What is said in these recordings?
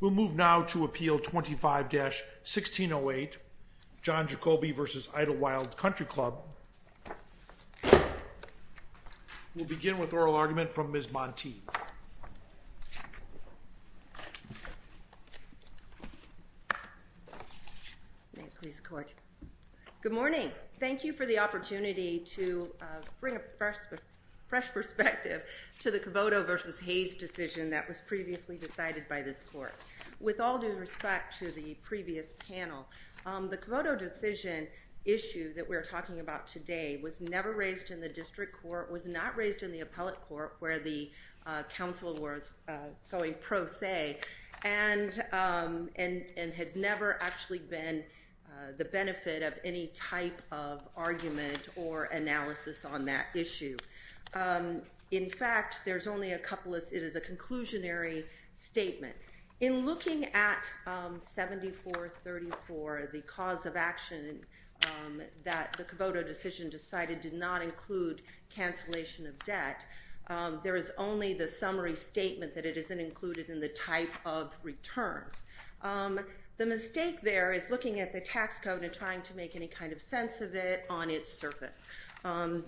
We'll move now to Appeal 25-1608, John Jacoby v. Idlewild Country Club. We'll begin with oral argument from Ms. Montee. May it please the Court. Good morning. Thank you for the opportunity to bring a fresh perspective to the Cavoto v. Hayes decision that was previously decided by this Court. With all due respect to the previous panel, the Cavoto decision issue that we're talking about today was never raised in the District Court, was not raised in the Appellate Court where the counsel was going pro se, and had never actually been the benefit of any type of argument or analysis on that issue. In fact, there's only a couple of—it is a conclusionary statement. In looking at 7434, the cause of action that the Cavoto decision decided did not include cancellation of debt, there is only the summary statement that it isn't included in the type of returns. The mistake there is looking at the tax code and trying to make any kind of sense of it on its surface.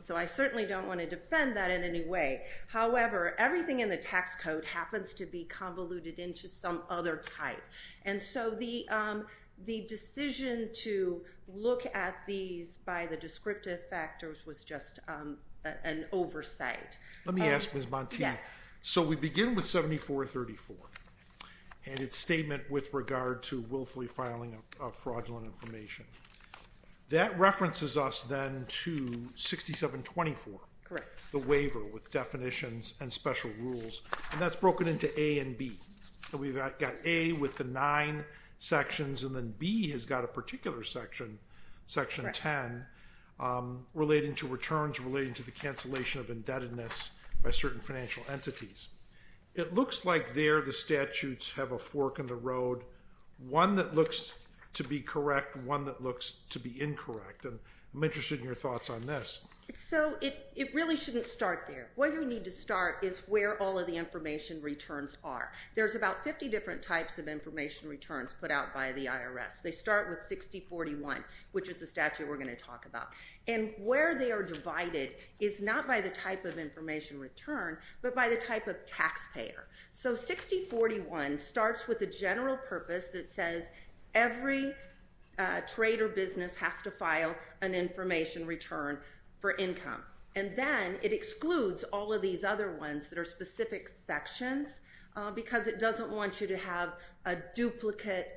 So I certainly don't want to defend that in any way. However, everything in the tax code happens to be convoluted into some other type. And so the decision to look at these by the descriptive factors was just an oversight. Let me ask Ms. Montee, so we begin with 7434 and its statement with regard to willfully filing of fraudulent information. That references us then to 6724, the waiver with definitions and special rules, and that's broken into A and B. We've got A with the nine sections, and then B has got a particular section, section 10, relating to returns relating to the cancellation of indebtedness by certain financial entities. It looks like there the statutes have a fork in the road, one that looks to be correct, one that looks to be incorrect. I'm interested in your thoughts on this. So it really shouldn't start there. Where you need to start is where all of the information returns are. There's about 50 different types of information returns put out by the IRS. They start with 6041, which is the statute we're going to talk about. And where they are divided is not by the type of information return, but by the type of taxpayer. So 6041 starts with a general purpose that says every trade or business has to file an information return for income. And then it excludes all of these other ones that are specific sections because it doesn't want you to have a duplicate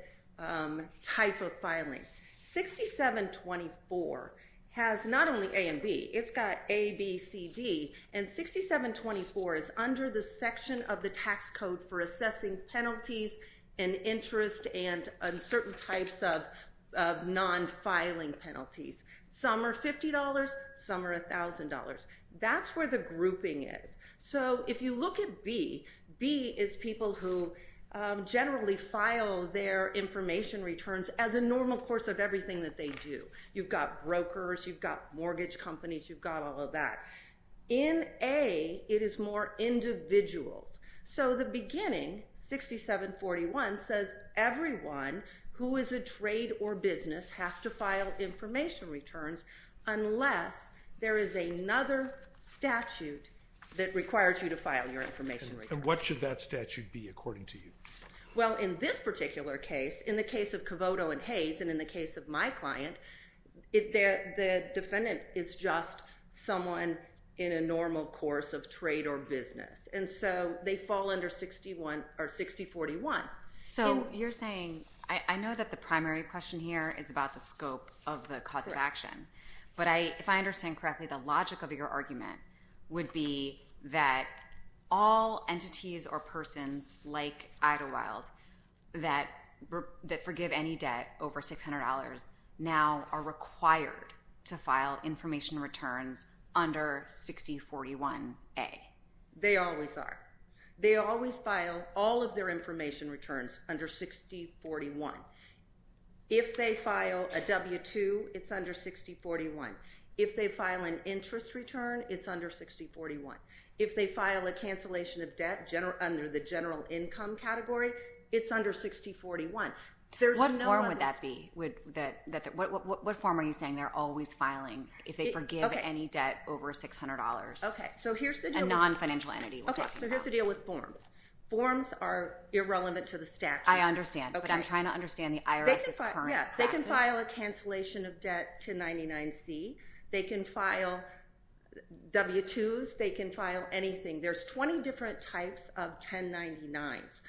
type of filing. 6724 has not only A and B, it's got A, B, C, D. And 6724 is under the section of the tax code for assessing penalties and interest and certain types of non-filing penalties. Some are $50, some are $1,000. That's where the grouping is. So if you look at B, B is people who generally file their information returns as a normal course of everything that they do. You've got brokers, you've got mortgage companies, you've got all of that. In A, it is more individuals. So the beginning, 6741, says everyone who is a trade or business has to file information returns unless there is another statute that requires you to file your information returns. What should that statute be according to you? Well, in this particular case, in the case of Cavoto and Hayes, and in the case of my client, the defendant is just someone in a normal course of trade or business. And so they fall under 6041. So you're saying, I know that the primary question here is about the scope of the cause of action. But if I understand correctly, the logic of your argument would be that all entities or persons like Idylwyld that forgive any debt over $600 now are required to file information returns under 6041A. They always are. They always file all of their information returns under 6041. If they file a W-2, it's under 6041. If they file an interest return, it's under 6041. If they file a cancellation of debt under the general income category, it's under 6041. What form would that be? What form are you saying they're always filing if they forgive any debt over $600? A non-financial entity. Okay, so here's the deal with forms. Forms are irrelevant to the statute. I understand. But I'm trying to understand the IRS's current practice. They can file a cancellation of debt to 99C. They can file W-2s. They can file anything. There's 20 different types of 1099s.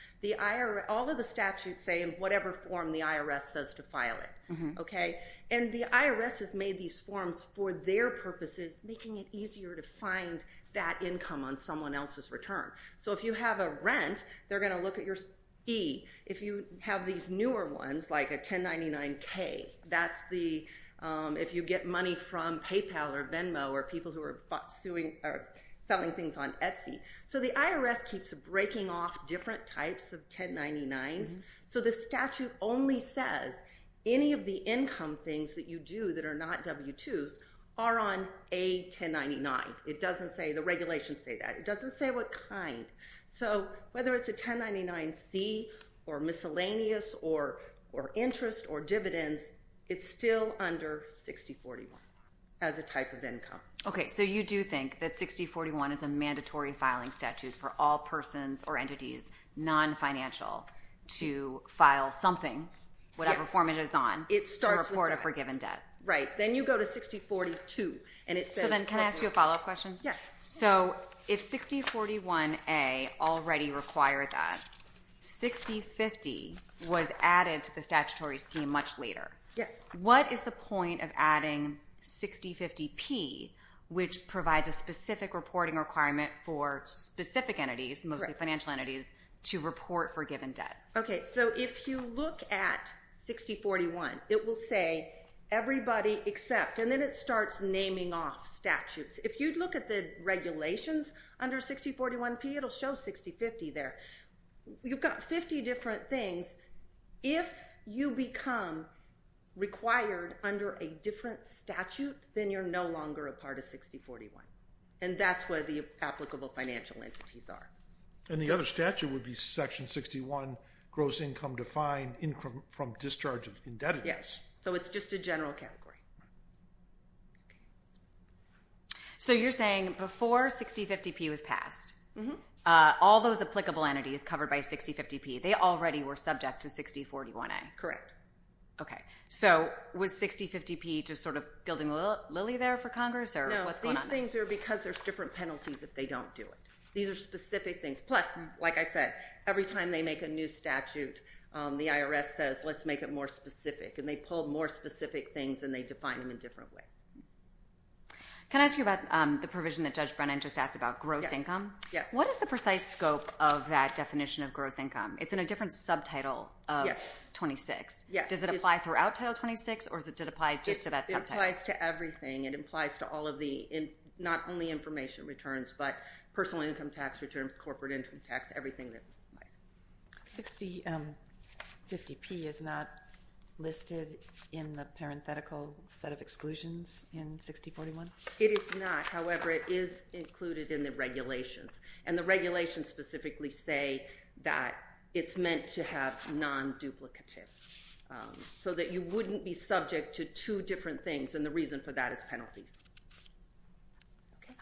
All of the statutes say in whatever form the IRS says to file it. And the IRS has made these forms for their purposes, making it easier to find that income on someone else's return. So if you have a rent, they're going to look at your E. If you have these newer ones, like a 1099K, that's if you get money from PayPal or Venmo or people who are selling things on Etsy. So the IRS keeps breaking off different types of 1099s. So the statute only says any of the income things that you do that are not W-2s are on a 1099. It doesn't say, the regulations say that. It doesn't say what kind. So whether it's a 1099C or miscellaneous or interest or dividends, it's still under 6041 as a type of income. Okay, so you do think that 6041 is a mandatory filing statute for all persons or entities non-financial to file something, whatever form it is on, to report a forgiven debt? Right. Then you go to 6042 and it says... So then can I ask you a follow-up question? Yes. So if 6041A already required that, 6050 was added to the statutory scheme much later. Yes. What is the point of adding 6050P, which provides a specific reporting requirement for specific entities, mostly financial entities, to report forgiven debt? Okay, so if you look at 6041, it will say everybody except, and then it starts naming off statutes. If you'd look at the regulations under 6041P, it'll show 6050 there. You've got 50 different things. If you become required under a different statute, then you're no longer a part of 6041. And that's where the applicable financial entities are. And the other statute would be section 61, gross income defined from discharge of indebtedness. Yes. So it's just a general category. So you're saying before 6050P was passed, all those applicable entities covered by 6050P, they already were subject to 6041A? Correct. Okay. So was 6050P just sort of building a lily there for Congress? No, these things are because there's different penalties if they don't do it. These are specific things. Plus, like I said, every time they make a new statute, the IRS says, let's make it more specific. And they pull more specific things, and they define them in different ways. Can I ask you about the provision that Judge Brennan just asked about, gross income? Yes. What is the precise scope of that definition of gross income? It's in a different subtitle of 26. Yes. Does it apply throughout Title 26, or does it apply just to that subtitle? It applies to everything. It applies to all of the, not only information returns, but personal income tax returns, corporate income tax, everything that applies. 6050P is not listed in the parenthetical set of exclusions in 6041? It is not. However, it is included in the regulations. And the regulations specifically say that it's meant to have non-duplicative, so that you wouldn't be subject to two different things, and the reason for that is penalties. Okay.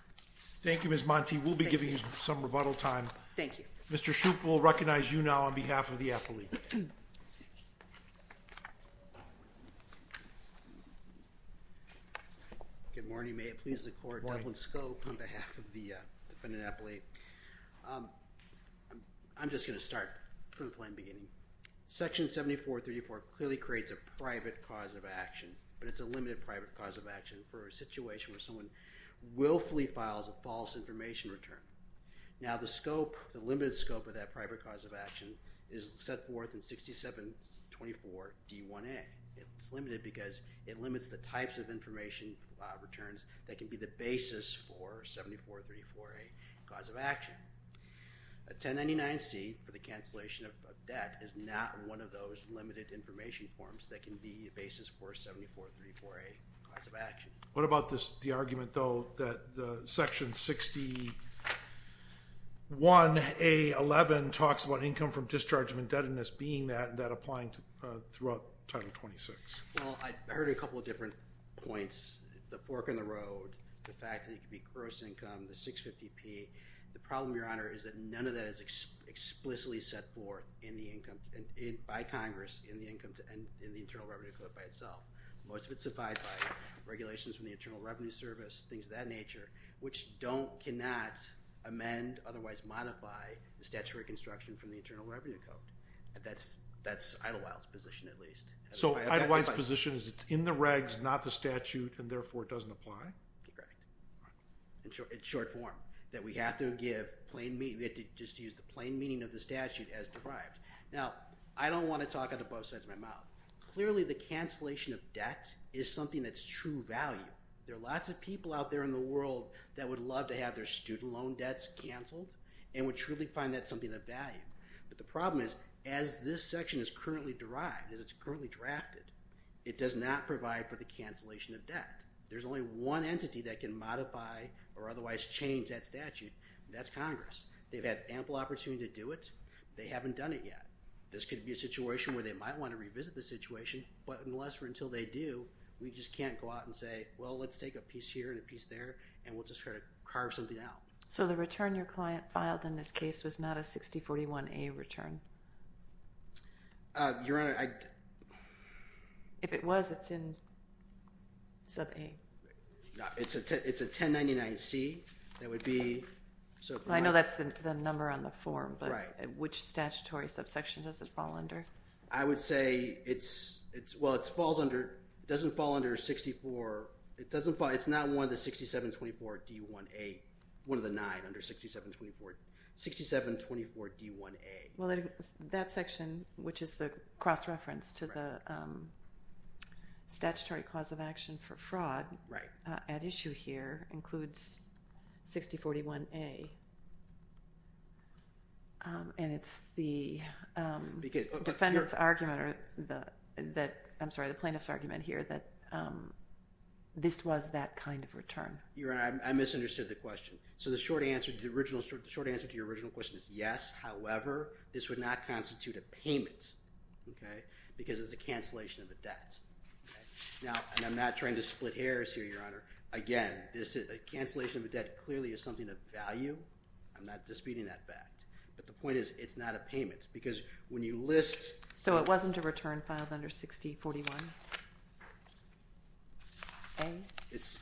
Thank you, Ms. Monti. We'll be giving you some rebuttal time. Thank you. Mr. Shoup, we'll recognize you now on behalf of the affiliate. Good morning. May it please the Court. Good morning. Devlin Shoup on behalf of the defendant affiliate. I'm just going to start from the plain beginning. Section 7434 clearly creates a private cause of action, but it's a limited private cause of action for a situation where someone willfully files a false information return. Now, the scope, the limited scope of that private cause of action is set forth in 6724D1A. It's limited because it limits the types of information returns that can be the basis for 7434A cause of action. A 1099C for the cancellation of debt is not one of those limited information forms that can be the basis for 7434A cause of action. What about the argument, though, that Section 61A11 talks about income from discharge of indebtedness being that and that applying throughout Title 26? Well, I heard a couple of different points. The fork in the road, the fact that it could be gross income, the 650P. The problem, Your Honor, is that none of that is explicitly set forth in the income, by Congress, in the Internal Revenue Code by itself. Most of it is specified by regulations from the Internal Revenue Service, things of that nature, which cannot amend, otherwise modify, the statute of reconstruction from the Internal Revenue Code. That's Idlewild's position, at least. So Idlewild's position is it's in the regs, not the statute, and therefore it doesn't apply? Correct. In short form, that we have to give plain meaning, we have to just use the plain meaning of the statute as derived. Now, I don't want to talk out of both sides of my true value. There are lots of people out there in the world that would love to have their student loan debts canceled and would truly find that something of value. But the problem is, as this section is currently derived, as it's currently drafted, it does not provide for the cancellation of debt. There's only one entity that can modify or otherwise change that statute, and that's Congress. They've had ample opportunity to do it. They haven't done it yet. This could be a situation where they might want to revisit the situation, but unless or until they do, we just can't go out and say, well, let's take a piece here and a piece there, and we'll just try to carve something out. So the return your client filed in this case was not a 6041A return? Your Honor, I... If it was, it's in sub A. It's a 1099C. That would be... I know that's the number on the form, but which statutory subsection does it fall under? I would say it's, well, it falls under, it doesn't fall under 64, it doesn't fall, it's not one of the 6724D1A, one of the nine under 6724D1A. Well, that section, which is the cross-reference to the statutory cause of action for fraud at issue here includes 6041A. And it's the defendant's argument or the, I'm sorry, the plaintiff's argument here that this was that kind of return. Your Honor, I misunderstood the question. So the short answer to your original question is yes, however, this would not constitute a payment, because it's a cancellation of a debt. Now, and I'm not trying to split hairs here, Your Honor. Again, this cancellation of a debt clearly is something of value. I'm not disputing that fact. But the point is, it's not a payment, because when you list... So it wasn't a return filed under 6041A? It's,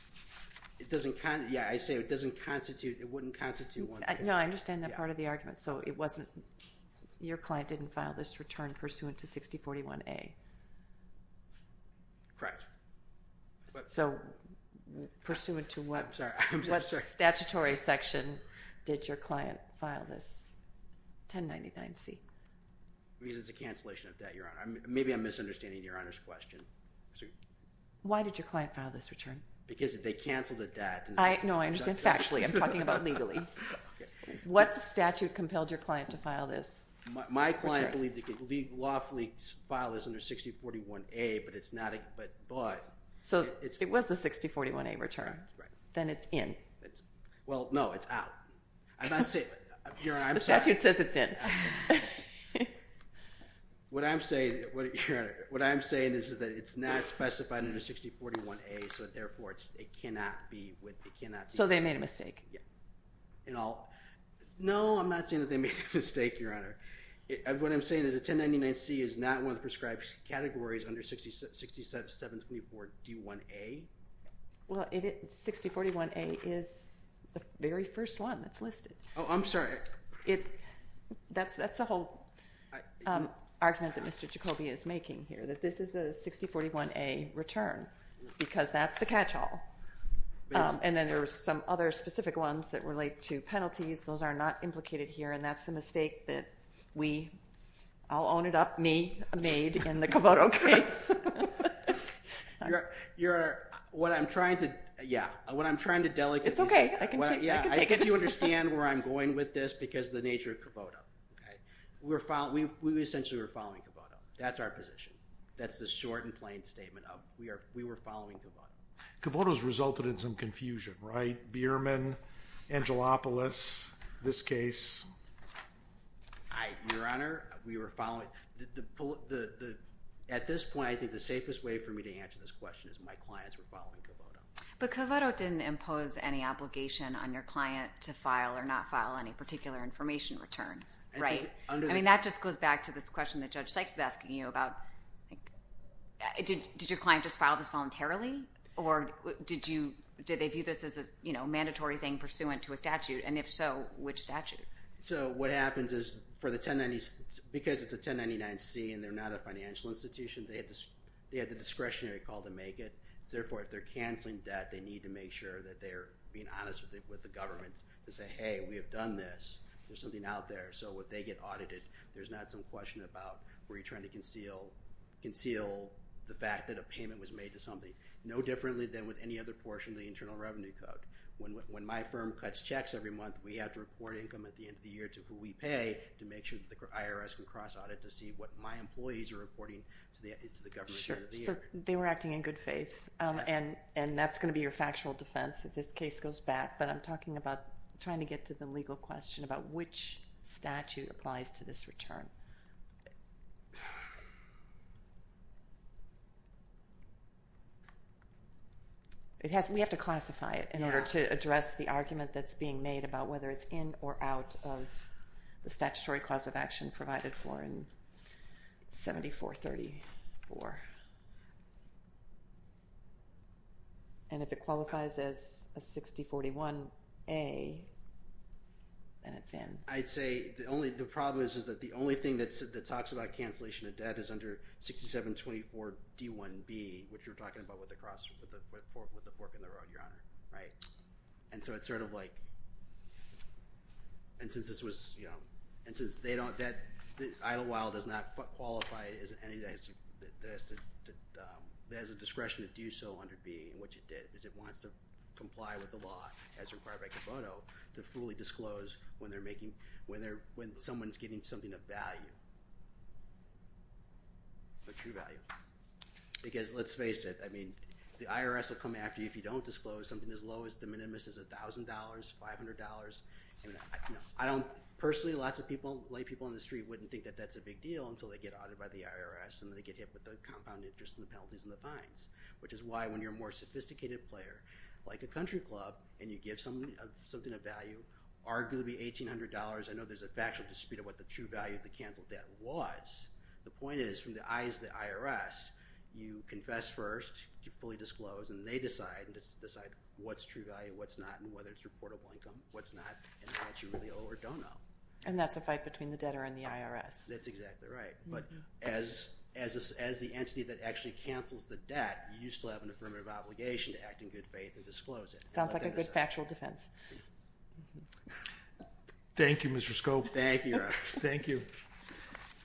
it doesn't, yeah, I say it doesn't constitute, it wouldn't constitute one... No, I understand that part of the argument. So it wasn't, your client didn't file this return pursuant to 6041A. Correct. So pursuant to what statutory section did your client file this 1099C? Because it's a cancellation of debt, Your Honor. Maybe I'm misunderstanding Your Honor's question. Why did your client file this return? Because they canceled a debt. No, I understand factually. I'm talking about legally. What statute compelled your client to file this return? My client believed it could legally, lawfully file this under 6041A, but it's not, but... So it was the 6041A return. Right. Then it's in. Well, no, it's out. I'm not saying, Your Honor, I'm sorry. The statute says it's in. What I'm saying, Your Honor, what I'm saying is that it's not specified under 6041A, so therefore it cannot be, it cannot be... So they made a mistake. No, I'm not saying that they made a mistake, Your Honor. What I'm saying is that 1099C is not one of the prescribed categories under 6724D1A. Well, 6041A is the very first one that's listed. Oh, I'm sorry. That's the whole argument that Mr. Jacoby is making here, that this is a 6041A return because that's the catch-all. And then there are some other specific ones that relate to penalties. Those are not implicated here, and that's a mistake that we, I'll own it up, me, made in the Cavoto case. Your Honor, what I'm trying to, yeah, what I'm trying to delegate to you... It's okay. I can take it. I get you understand where I'm going with this because of the nature of Cavoto. We essentially were following Cavoto. That's our position. That's the short and plain statement of we were following Cavoto. Cavoto has resulted in some confusion, right? Bierman, Angelopoulos, this case. Your Honor, we were following. At this point, I think the safest way for me to answer this question is my clients were following Cavoto. But Cavoto didn't impose any obligation on your client to file or not file any particular information returns, right? I mean, that just goes back to this question that Judge Sykes is asking you about did your client just file this voluntarily? Or did they view this as a mandatory thing pursuant to a statute? And if so, which statute? So what happens is for the 1090s, because it's a 1099-C and they're not a financial institution, they have the discretionary call to make it. So therefore, if they're canceling debt, they need to make sure that they're being honest with the government to say, hey, we have done this. There's something out there. So if they get audited, there's not some question about were you trying to conceal the fact that a payment was made to somebody. No differently than with any other portion of the Internal Revenue Code. When my firm cuts checks every month, we have to report income at the end of the year to who we pay to make sure that the IRS can cross audit to see what my employees are reporting to the government at the end of the year. So they were acting in good faith, and that's going to be your factual defense if this case goes back. But I'm talking about trying to get to the legal question about which statute applies to this return. We have to classify it in order to address the argument that's being made about whether it's in or out of the statutory clause of action provided for in 7434. And if it qualifies as a 6041A, then it's in. I'd say the problem is that the only thing that talks about cancellation of debt is under 6724D1B, which we're talking about with the fork in the road, Your Honor. And so it's sort of like, and since this was, you know, and since they don't, that Idlewild does not qualify as any, it has a discretion to do so under B, which it did, because it wants to comply with the law as required by Kiboto to fully disclose when they're making, when someone's giving something of value. But true value. Because let's face it, I mean, the IRS will come after you if you don't disclose something as low as the minimus, as $1,000, $500. I don't, personally, lots of people, lay people on the street wouldn't think that that's a big deal until they get audited by the IRS and they get hit with the compound interest and the penalties and the fines. Which is why when you're a more sophisticated player, like a country club, and you give something of value, arguably $1,800, I know there's a factual dispute about the true value of the canceled debt, was, the point is, from the eyes of the IRS, you confess first, you fully disclose, and they decide what's true value, what's not, and whether it's reportable income, what's not, and that you really owe or don't owe. And that's a fight between the debtor and the IRS. That's exactly right. But as the entity that actually cancels the debt, you still have an affirmative obligation to act in good faith and disclose it. Sounds like a good factual defense. Thank you, Mr. Scope. Thank you.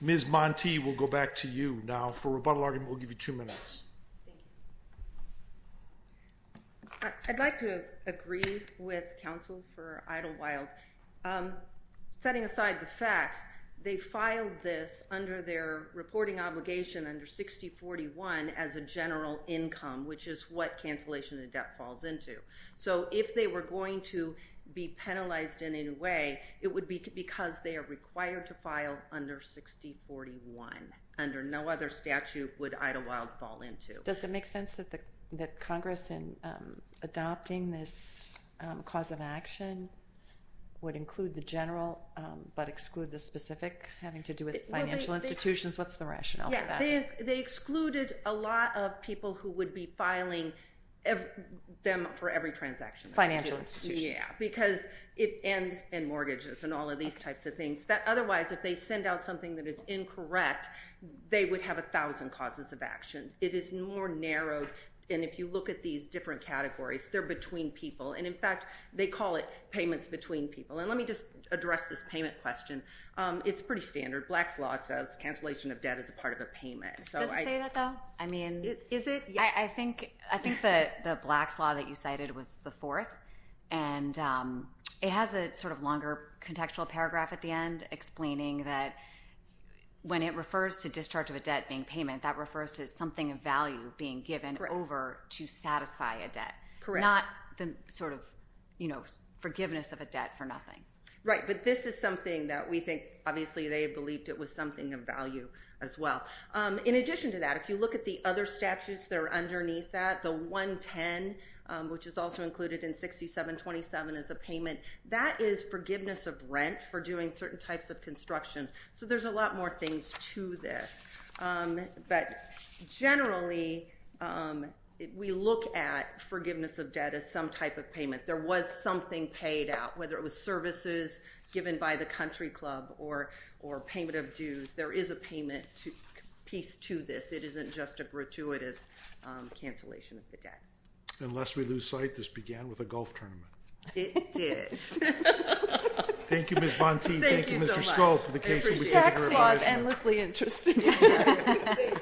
Ms. Montee, we'll go back to you now for a rebuttal argument. We'll give you two minutes. I'd like to agree with counsel for Idlewild. Setting aside the facts, they filed this under their reporting obligation under 6041 as a general income, which is what cancellation of debt falls into. So if they were going to be penalized in any way, it would be because they are required to file under 6041. Under no other statute would Idlewild fall into. Does it make sense that Congress, in adopting this cause of action, would include the general but exclude the specific, having to do with financial institutions? What's the rationale for that? They excluded a lot of people who would be filing them for every transaction. Financial institutions. Yeah, and mortgages and all of these types of things. Otherwise, if they send out something that is incorrect, they would have 1,000 causes of action. It is more narrowed. And if you look at these different categories, they're between people. And in fact, they call it payments between people. And let me just address this payment question. It's pretty standard. Black's Law says cancellation of debt is a part of a payment. Does it say that, though? Is it? Yes. I think the Black's Law that you cited was the fourth. And it has a sort of longer contextual paragraph at the end explaining that when it refers to discharge of a debt being payment, that refers to something of value being given over to satisfy a debt. Correct. Not the sort of forgiveness of a debt for nothing. Right, but this is something that we think obviously they believed it was something of value as well. In addition to that, if you look at the other statutes that are underneath that, the 110, which is also included in 6727 as a payment, that is forgiveness of rent for doing certain types of construction. So there's a lot more things to this. But generally, we look at forgiveness of debt as some type of payment. There was something paid out, whether it was services given by the country club or payment of dues. There is a payment piece to this. It isn't just a gratuitous cancellation of the debt. And lest we lose sight, this began with a golf tournament. It did. Thank you, Ms. Bonte. Thank you so much. Thank you, Mr. Skolk, for the case. Tax law is endlessly interesting. Thank you.